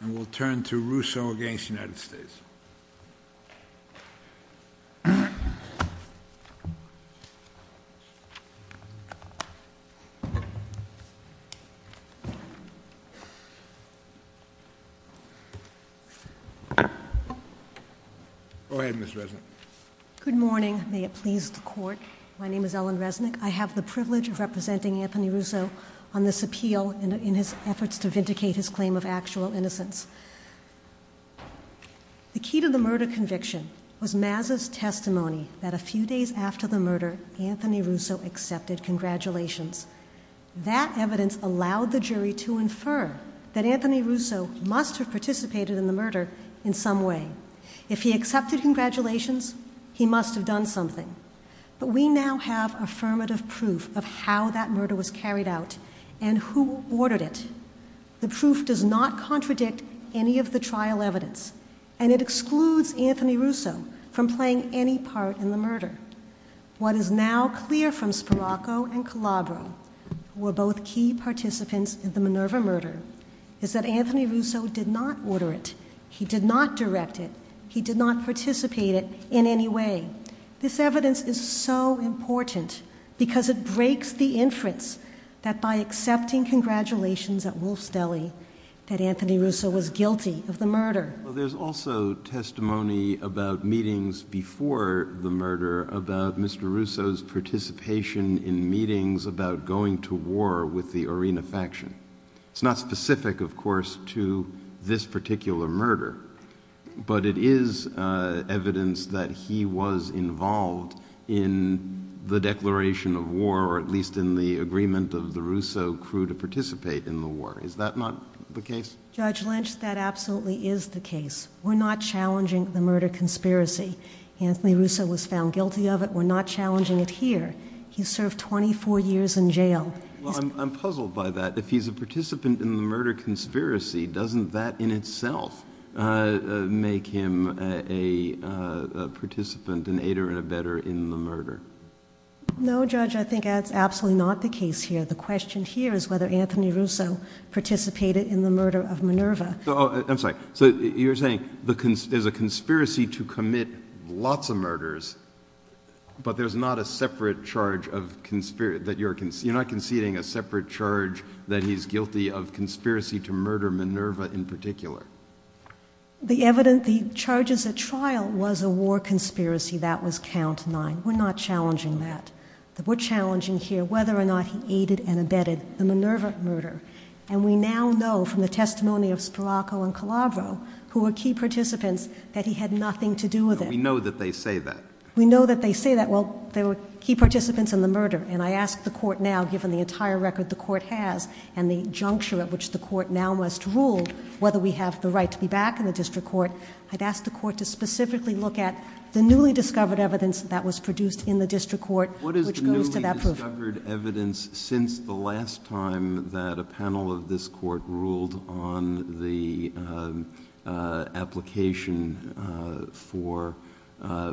And we'll turn to Rousseau against the United States. Go ahead, Ms. Resnick. Good morning. May it please the court. My name is Ellen Resnick. I have the privilege of representing Anthony Rousseau on this appeal in his efforts to vindicate his claim of actual innocence. The key to the murder conviction was Mazza's testimony that a few days after the murder, Anthony Rousseau accepted congratulations. That evidence allowed the jury to infer that Anthony Rousseau must have participated in the murder in some way. If he accepted congratulations, he must have done something. But we now have affirmative proof of how that murder was carried out and who ordered it. The proof does not contradict any of the trial evidence. And it excludes Anthony Rousseau from playing any part in the murder. What is now clear from Spirocco and Calabro, who were both key participants in the Minerva murder, is that Anthony Rousseau did not order it. He did not direct it. He did not participate it in any way. This evidence is so important because it breaks the inference that by accepting congratulations at Wolf's Deli, that Anthony Rousseau was guilty of the murder. There's also testimony about meetings before the murder about Mr. Rousseau's participation in meetings about going to war with the Arena faction. It's not specific, of course, to this particular murder. But it is evidence that he was involved in the declaration of war, or at least in the agreement of the Rousseau crew to participate in the war. Is that not the case? Judge Lynch, that absolutely is the case. We're not challenging the murder conspiracy. Anthony Rousseau was found guilty of it. We're not challenging it here. He served 24 years in jail. I'm puzzled by that. If he's a participant in the murder conspiracy, doesn't that in itself make him a participant, an aider and abetter in the murder? No, Judge, I think that's absolutely not the case here. The question here is whether Anthony Rousseau participated in the murder of Minerva. I'm sorry. So you're saying there's a conspiracy to commit lots of murders, but you're not conceding a separate charge that he's guilty of conspiracy to murder Minerva in particular? The evidence, the charges at trial was a war conspiracy. That was count nine. We're not challenging that. We're challenging here whether or not he aided and abetted the Minerva murder. And we now know from the testimony of Spiraco and Calabro, who were key participants, that he had nothing to do with it. We know that they say that. We know that they say that. Well, they were key participants in the murder. And I ask the court now, given the entire record the court has and the juncture at which the court now must rule whether we have the right to be back in the district court, I'd ask the court to specifically look at the newly discovered evidence that was produced in the district court, which goes to that proof. What is newly discovered evidence since the last time that a panel of this court ruled on the application for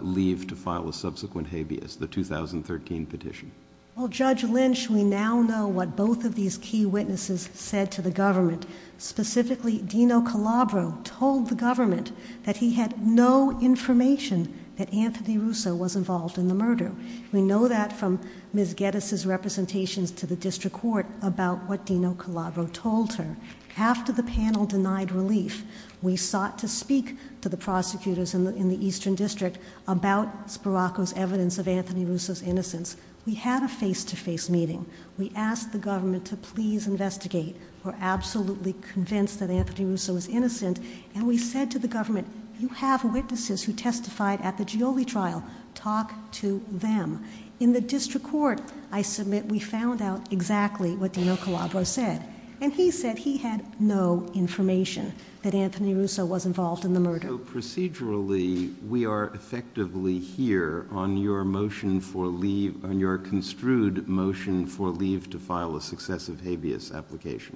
leave to file a subsequent habeas, the 2013 petition? Well, Judge Lynch, we now know what both of these key witnesses said to the government. Specifically, Dino Calabro told the government that he had no information that Anthony Russo was involved in the murder. We know that from Ms. Geddes' representations to the district court about what Dino Calabro told her. After the panel denied relief, we sought to speak to the prosecutors in the Eastern District about Spiraco's evidence of Anthony Russo's innocence. We had a face-to-face meeting. We asked the government to please investigate. We're absolutely convinced that Anthony Russo is innocent. And we said to the government, you have witnesses who testified at the Gioli trial. Talk to them. In the district court, I submit we found out exactly what Dino Calabro said. And he said he had no information that Anthony Russo was involved in the murder. So procedurally, we are effectively here on your motion for leave, on your construed motion for leave to file a successive habeas application.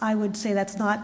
I would say that's not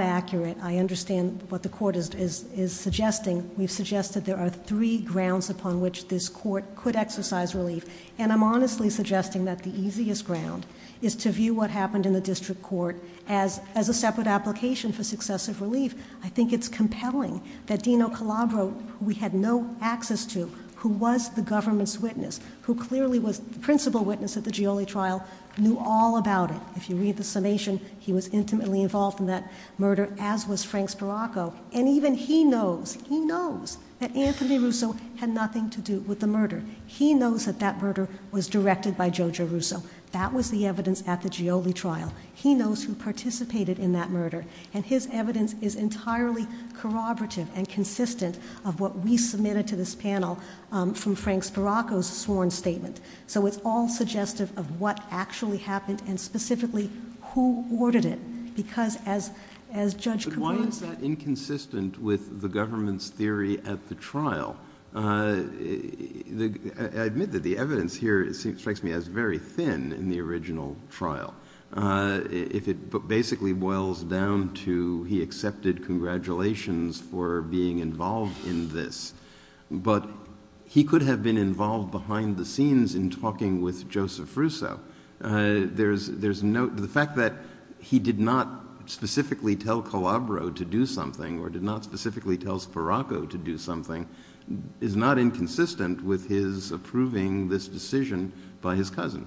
accurate. I understand what the court is suggesting. We've suggested there are three grounds upon which this court could exercise relief. And I'm honestly suggesting that the easiest ground is to view what happened in the district court as a separate application for successive relief. I think it's compelling that Dino Calabro, who we had no access to, who was the government's witness, who clearly was the principal witness at the Gioli trial, knew all about it. If you read the summation, he was intimately involved in that murder, as was Frank Sparacco. And even he knows, he knows that Anthony Russo had nothing to do with the murder. He knows that that murder was directed by Joe Giarrusso. That was the evidence at the Gioli trial. He knows who participated in that murder. And his evidence is entirely corroborative and consistent of what we submitted to this panel from Frank Sparacco's sworn statement. So it's all suggestive of what actually happened and specifically who ordered it. Because as Judge Capone said. But why is that inconsistent with the government's theory at the trial? I admit that the evidence here strikes me as very thin in the original trial. If it basically boils down to he accepted congratulations for being involved in this. But he could have been involved behind the scenes in talking with Joseph Russo. The fact that he did not specifically tell Calabro to do something, or did not specifically tell Sparacco to do something, is not inconsistent with his approving this decision by his cousin.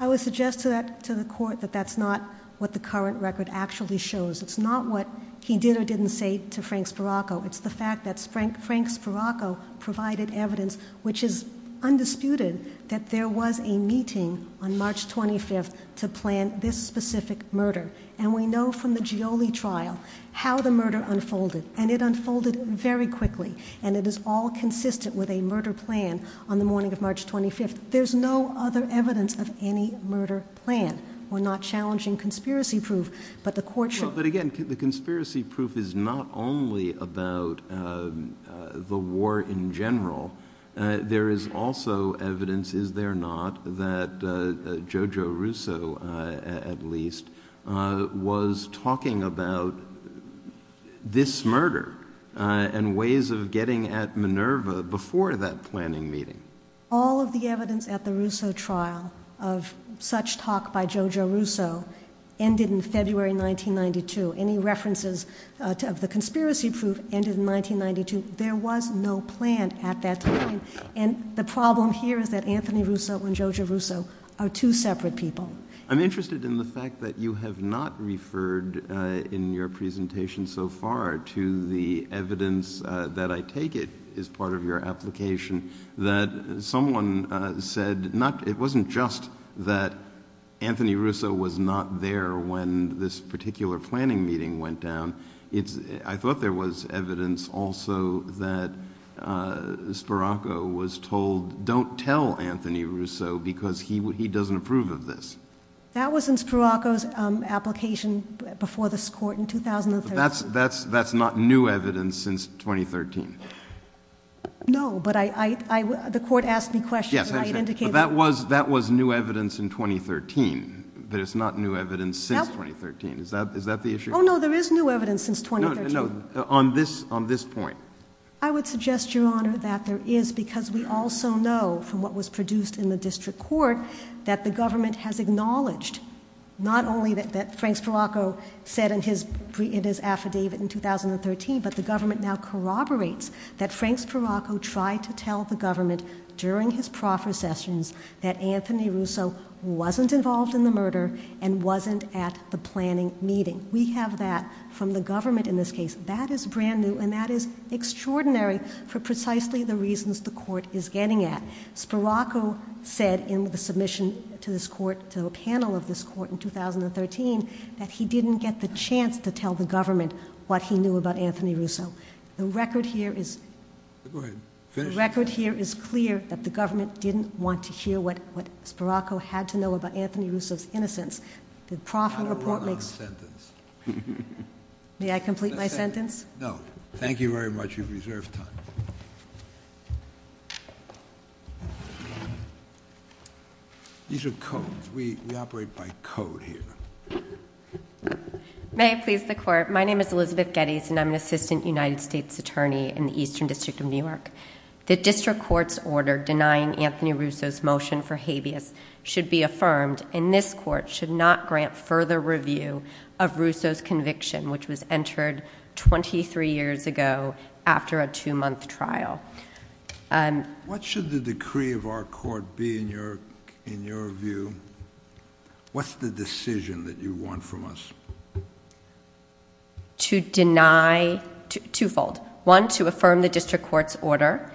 I would suggest to the court that that's not what the current record actually shows. It's not what he did or didn't say to Frank Sparacco. It's the fact that Frank Sparacco provided evidence which is undisputed that there was a meeting on March 25 to plan this specific murder. And we know from the Gioli trial how the murder unfolded. And it unfolded very quickly. And it is all consistent with a murder plan on the morning of March 25. There's no other evidence of any murder plan. We're not challenging conspiracy proof, but the court should. But again, the conspiracy proof is not only about the war in general. There is also evidence, is there not, that Jojo Russo, at least, was talking about this murder and ways of getting at Minerva before that planning meeting. All of the evidence at the Russo trial of such talk by Jojo Russo ended in February 1992. Any references of the conspiracy proof ended in 1992. There was no plan at that time. And the problem here is that Anthony Russo and Jojo Russo are two separate people. I'm interested in the fact that you have not referred in your presentation so far to the evidence that I take it is part of your application that someone said, it wasn't just that Anthony Russo was not there when this particular planning meeting went down. I thought there was evidence also that Spiraco was told, don't tell Anthony Russo because he doesn't approve of this. That was in Spiraco's application before this court in 2013. That's not new evidence since 2013. No, but the court asked me questions. Yes, I understand. But that was new evidence in 2013. That is not new evidence since 2013. Is that the issue? Oh, no, there is new evidence since 2013. No, no, no, on this point. I would suggest, Your Honor, that there is because we also know from what was produced in the district court that the government has acknowledged, not only that Frank Spiraco said in his affidavit in 2013, but the government now corroborates that Frank Spiraco tried to tell the government during his proffer sessions that Anthony Russo wasn't involved in the murder and wasn't at the planning meeting. We have that from the government in this case. That is brand new. And that is extraordinary for precisely the reasons the court is getting at. Spiraco said in the submission to this court, to a panel of this court in 2013, that he didn't get the chance to tell the government what he knew about Anthony Russo. The record here is clear that the government didn't want to hear what Spiraco had to know about Anthony Russo's innocence. The proffer report makes. I don't want a sentence. May I complete my sentence? No. Thank you very much. You've reserved time. These are codes. We operate by code here. May it please the court. My name is Elizabeth Geddes, and I'm an assistant United States attorney in the Eastern District of New York. The district court's order denying Anthony Russo's motion for habeas should be affirmed, and this court should not grant further review of Russo's conviction, which was entered 23 years ago after a two-month trial. What should the decree of our court be in your view? What's the decision that you want from us? To deny twofold. One, to affirm the district court's order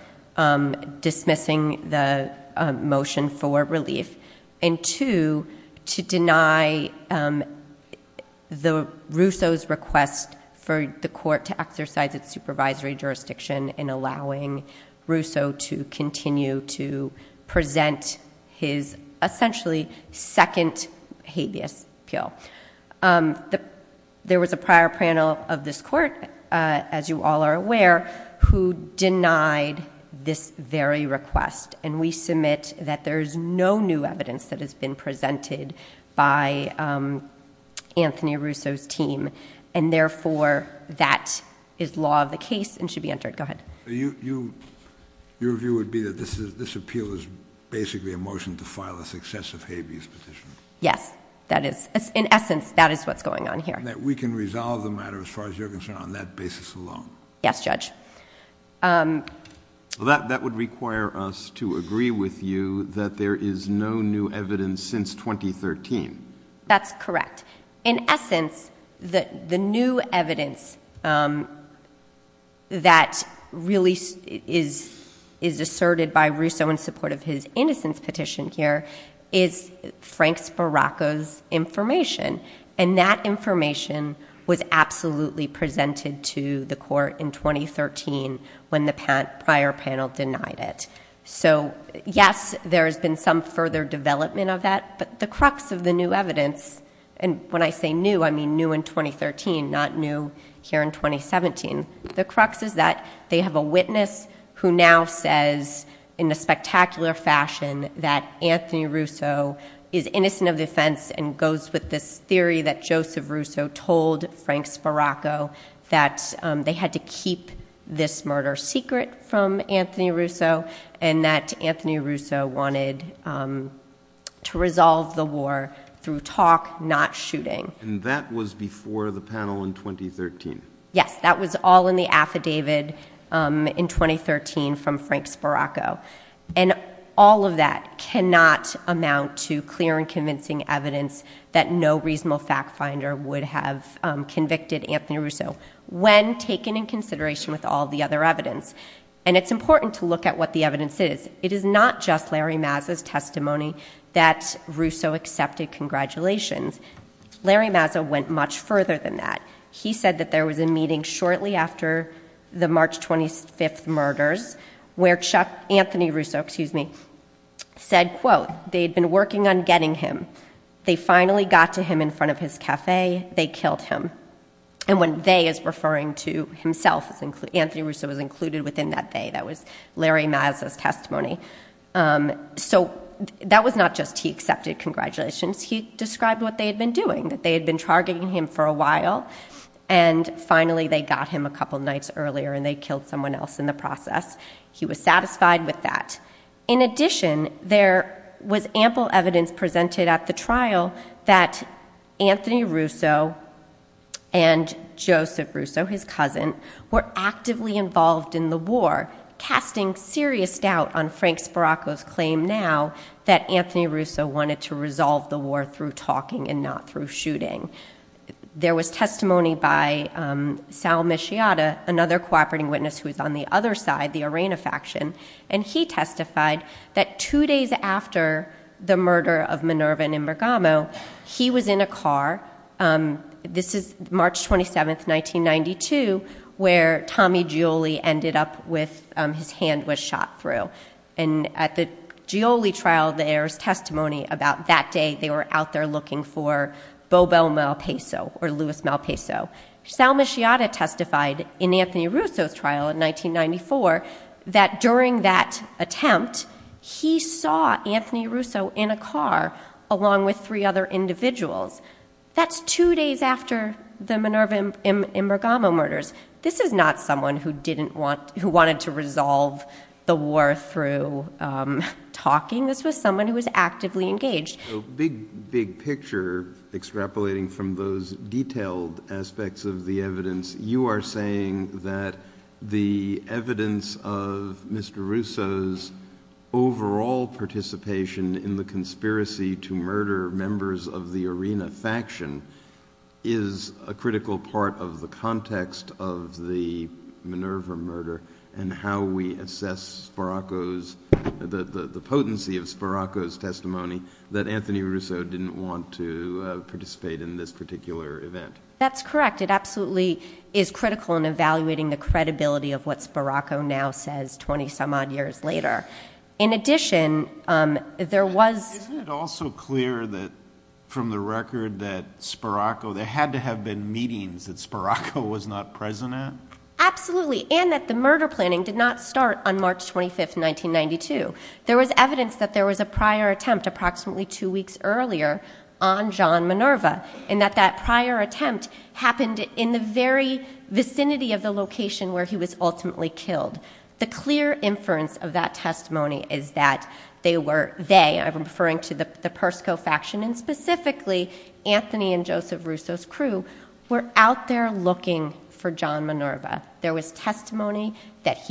dismissing the motion for relief. And two, to deny Russo's request for the court to exercise its supervisory jurisdiction in allowing Russo to continue to present his essentially second habeas appeal. There was a prior panel of this court, as you all are aware, who denied this very request. And we submit that there is no new evidence that has been presented by Anthony Russo's team. And therefore, that is law of the case and should be entered. Go ahead. Your view would be that this appeal is basically a motion to file a successive habeas petition. Yes, that is. In essence, that is what's going on here. That we can resolve the matter as far as you're concerned on that basis alone. Yes, Judge. That would require us to agree with you that there is no new evidence since 2013. That's correct. In essence, the new evidence that really is asserted by Russo in support of his innocence petition here is Frank Sporacco's information. And that information was absolutely presented to the court in 2013 when the prior panel denied it. So yes, there has been some further development of that. But the crux of the new evidence, and when I say new, I mean new in 2013, not new here in 2017, the crux is that they have a witness who now says in a spectacular fashion that Anthony Russo is innocent of the offense and goes with this theory that Joseph Russo told Frank Sporacco that they had to keep this murder secret from Anthony Russo, and that Anthony Russo wanted to resolve the war through talk, not shooting. And that was before the panel in 2013. Yes, that was all in the affidavit in 2013 from Frank Sporacco. And all of that cannot amount to clear and convincing evidence that no reasonable fact finder would have convicted Anthony Russo when taken in consideration with all the other evidence. And it's important to look at what the evidence is. It is not just Larry Mazza's testimony that Russo accepted congratulations. Larry Mazza went much further than that. He said that there was a meeting shortly after the March 25th murders where Anthony Russo said, quote, they'd been working on getting him. They finally got to him in front of his cafe. They killed him. And when they is referring to himself, Anthony Russo was included within that they. That was Larry Mazza's testimony. So that was not just he accepted congratulations. He described what they had been doing, that they had been targeting him for a while. And finally, they got him a couple of nights earlier. And they killed someone else in the process. He was satisfied with that. In addition, there was ample evidence presented at the trial that Anthony Russo and Joseph Russo, his cousin, were actively involved in the war, casting serious doubt on Frank Sporacco's claim now that Anthony Russo wanted to resolve the war through talking and not through shooting. There was testimony by Sal Michiata, another cooperating witness who was on the other side, the Arena faction. And he testified that two days after the murder of Minerva and Imbergamo, he was in a car. This is March 27, 1992, where Tommy Gioli ended up with his hand was shot through. And at the Gioli trial, there's testimony about that day they were out there looking for Bobo Malpeso or Luis Malpeso. Sal Michiata testified in Anthony Russo's trial in 1994 that during that attempt, he saw Anthony Russo in a car along with three other individuals. That's two days after the Minerva-Imbergamo murders. This is not someone who wanted to resolve the war through talking. This was someone who was actively engaged. So, big, big picture extrapolating from those detailed aspects of the evidence, you are saying that the evidence of Mr Russo's overall participation in the conspiracy to murder members of the Arena faction is a critical part of the context of the Minerva murder and how we assess Sparaco's... ...that Anthony Russo didn't want to participate in this particular event. That's correct. It absolutely is critical in evaluating the credibility of what Sparaco now says 20-some-odd years later. In addition, there was... Isn't it also clear that, from the record, that Sparaco... There had to have been meetings that Sparaco was not present at? Absolutely. And that the murder planning did not start on March 25, 1992. There was evidence that there was a prior attempt, approximately two weeks earlier, on John Minerva, and that that prior attempt happened in the very vicinity of the location where he was ultimately killed. The clear inference of that testimony is that they were... They, I'm referring to the Persico faction, and specifically Anthony and Joseph Russo's crew, were out there looking for John Minerva. There was testimony that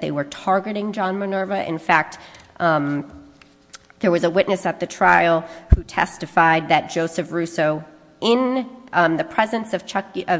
they were targeting John Minerva and that, in fact, there was a witness at the trial who testified that Joseph Russo, in the presence of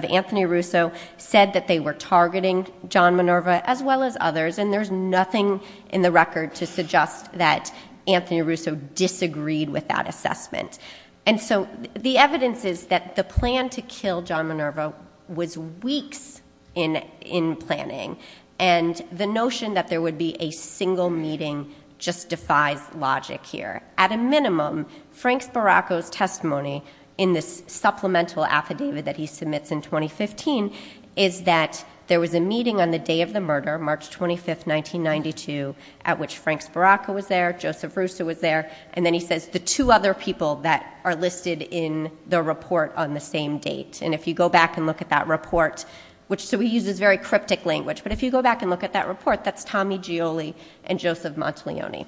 Anthony Russo, said that they were targeting John Minerva, as well as others, and there's nothing in the record to suggest that Anthony Russo disagreed with that assessment. And so the evidence is that the plan to kill John Minerva was weeks in planning, and the notion that there would be a single meeting just defies logic here. At a minimum, Frank Sparacco's testimony, in this supplemental affidavit that he submits in 2015, is that there was a meeting on the day of the murder, March 25, 1992, at which Frank Sparacco was there, Joseph Russo was there, and then he says, the two other people that are listed in the report on the same date. And if you go back and look at that report, which...so he uses very cryptic language, but if you go back and look at that report, that's Tommy Gioli and Joseph Montalioni.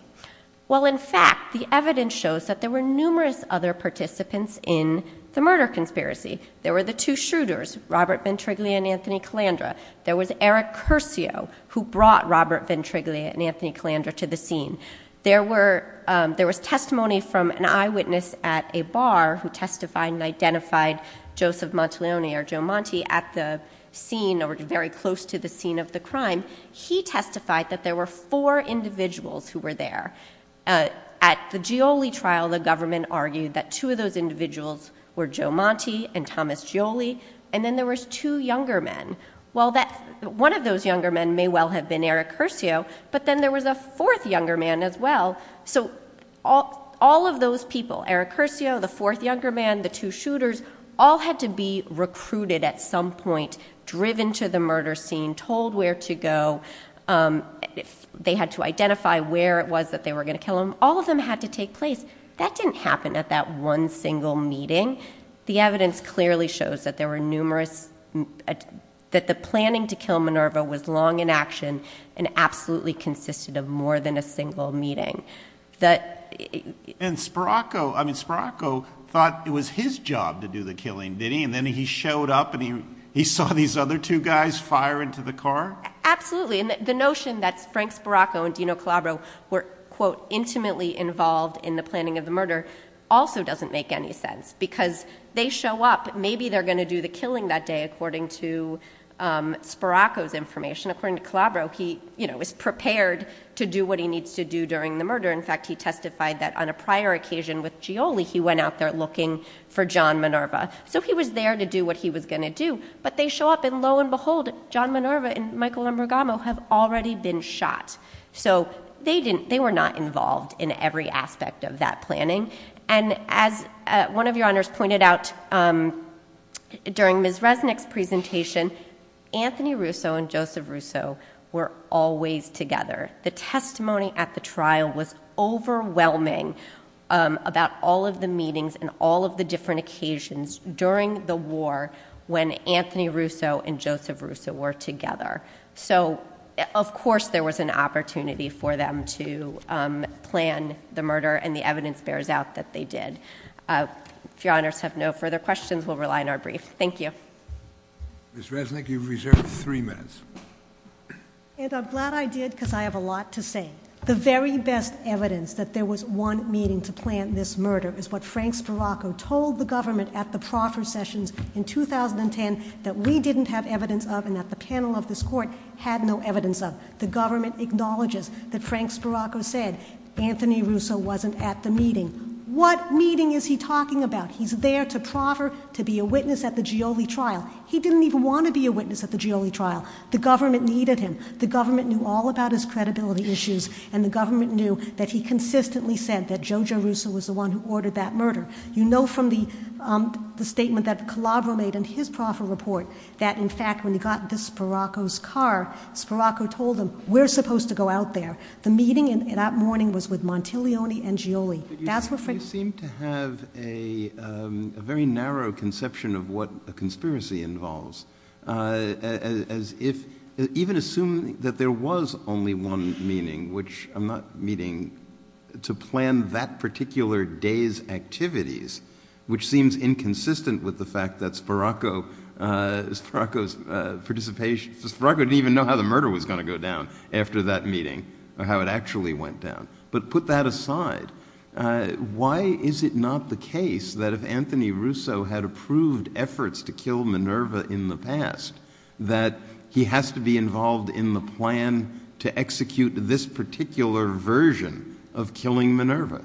Well, in fact, the evidence shows that there were numerous other participants in the murder conspiracy. There were the two shooters, Robert Ventriglia and Anthony Calandra. There was Eric Curcio, who brought Robert Ventriglia and Anthony Calandra to the scene. There was testimony from an eyewitness at a bar who testified and identified Joseph Montalioni, or Joe Monti, at the scene, or very close to the scene of the crime. He testified that there were four individuals who were there. At the Gioli trial, the government argued that two of those individuals were Joe Monti and Thomas Gioli, and then there was two younger men. Well, one of those younger men may well have been Eric Curcio, but then there was a fourth younger man as well. So all of those people, Eric Curcio, the fourth younger man, the two shooters, all had to be recruited at some point, driven to the murder scene, told where to go. They had to identify where it was that they were going to kill him. All of them had to take place. That didn't happen at that one single meeting. The evidence clearly shows that there were numerous... ..that the planning to kill Minerva was long in action and absolutely consisted of more than a single meeting. And Sporacco... I mean, Sporacco thought it was his job to do the killing, did he? And then he showed up and he saw these other two guys fire into the car? Absolutely. And the notion that Frank Sporacco and Dino Calabro were, quote, ''intimately involved in the planning of the murder'' also doesn't make any sense, because they show up. Maybe they're going to do the killing that day, according to Sporacco's information. According to Calabro, he, you know, was prepared to do what he needs to do during the murder. In fact, he testified that on a prior occasion with Gioli, he went out there looking for John Minerva. So he was there to do what he was going to do, but they show up and, lo and behold, John Minerva and Michael Ambrugamo have already been shot. So they were not involved in every aspect of that planning. And as one of Your Honours pointed out, during Ms Resnick's presentation, Anthony Russo and Joseph Russo were always together. The testimony at the trial was overwhelming about all of the meetings and all of the different occasions during the war, when Anthony Russo and Joseph Russo were together. So, of course, there was an opportunity for them to plan the murder, and the evidence bears out that they did. If Your Honours have no further questions, we'll rely on our brief. Thank you. Ms Resnick, you've reserved three minutes. And I'm glad I did, because I have a lot to say. The very best evidence that there was one meeting to plan this murder is what Frank Spirocco told the government at the proffer sessions in 2010 that we didn't have evidence of and that the panel of this court had no evidence of. The government acknowledges that Frank Spirocco said Anthony Russo wasn't at the meeting. What meeting is he talking about? He's there to proffer, to be a witness at the Gioli trial. He didn't even want to be a witness at the Gioli trial. The government needed him. The government knew all about his credibility issues, and the government knew that he consistently said that Joe Giarrusso was the one who ordered that murder. You know from the statement that Calabro made in his proffer report that, in fact, when he got into Spirocco's car, Spirocco told him, we're supposed to go out there. The meeting that morning was with Montilioni and Gioli. That's where Frank... You seem to have a very narrow conception of what a conspiracy involves. As if... Even assuming that there was only one meeting, which I'm not meeting... To plan that particular day's activities, which seems inconsistent with the fact that Spirocco... Spirocco's participation... Spirocco didn't even know how the murder was going to go down after that meeting, or how it actually went down. But put that aside, why is it not the case that if Anthony Russo had approved efforts to kill Minerva in the past, that he has to be involved in the plan to execute this particular version of killing Minerva?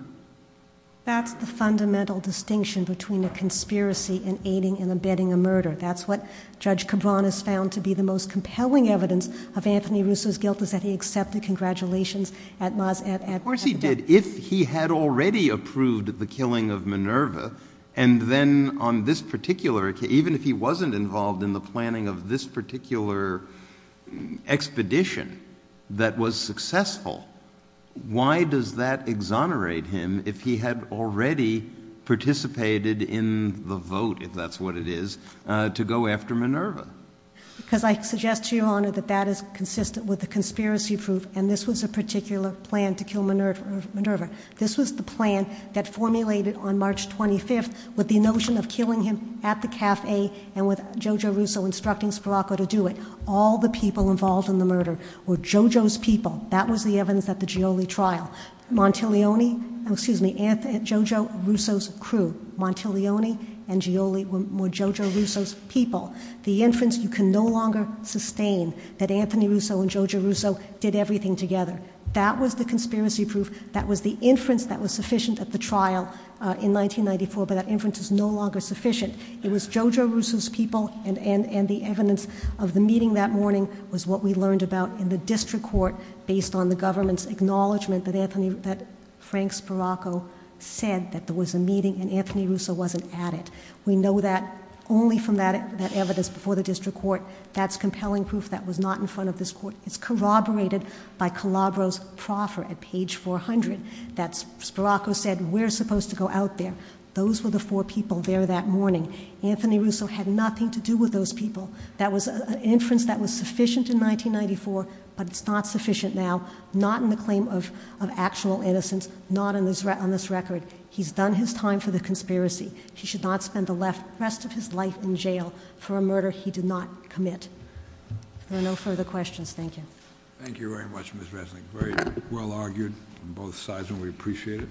That's the fundamental distinction between a conspiracy and aiding and abetting a murder. That's what Judge Cabran has found to be the most compelling evidence of Anthony Russo's guilt, is that he accepted congratulations at Maz... Of course he did. If he had already approved the killing of Minerva, and then on this particular... Even if he wasn't involved in the planning of this particular expedition that was successful, why does that exonerate him if he had already participated in the vote, if that's what it is, to go after Minerva? Because I suggest to Your Honor that that is consistent with the conspiracy proof, and this was a particular plan to kill Minerva. This was the plan that formulated on March 25th with the notion of killing him at the cafe and with JoJo Russo instructing Spirocco to do it. All the people involved in the murder were JoJo's people. That was the evidence at the Gioli trial. Montelioni... Oh, excuse me, JoJo Russo's crew. Montelioni and Gioli were JoJo Russo's people. The inference you can no longer sustain that Anthony Russo and JoJo Russo did everything together. That was the conspiracy proof. That was the inference that was sufficient at the trial in 1994, but that inference is no longer sufficient. It was JoJo Russo's people, and the evidence of the meeting that morning was what we learned about in the district court based on the government's acknowledgment that Frank Spirocco said that there was a meeting and Anthony Russo wasn't at it. We know that only from that evidence before the district court. That's compelling proof that was not in front of this court. It's corroborated by Calabro's proffer at page 400 that Spirocco said we're supposed to go out there. Those were the four people there that morning. Anthony Russo had nothing to do with those people. That was an inference that was sufficient in 1994, but it's not sufficient now, not in the claim of actual innocence, not on this record. He's done his time for the conspiracy. He should not spend the rest of his life in jail for a murder he did not commit. There are no further questions. Thank you. Thank you very much, Ms. Resnick. Very well argued on both sides, and we appreciate it.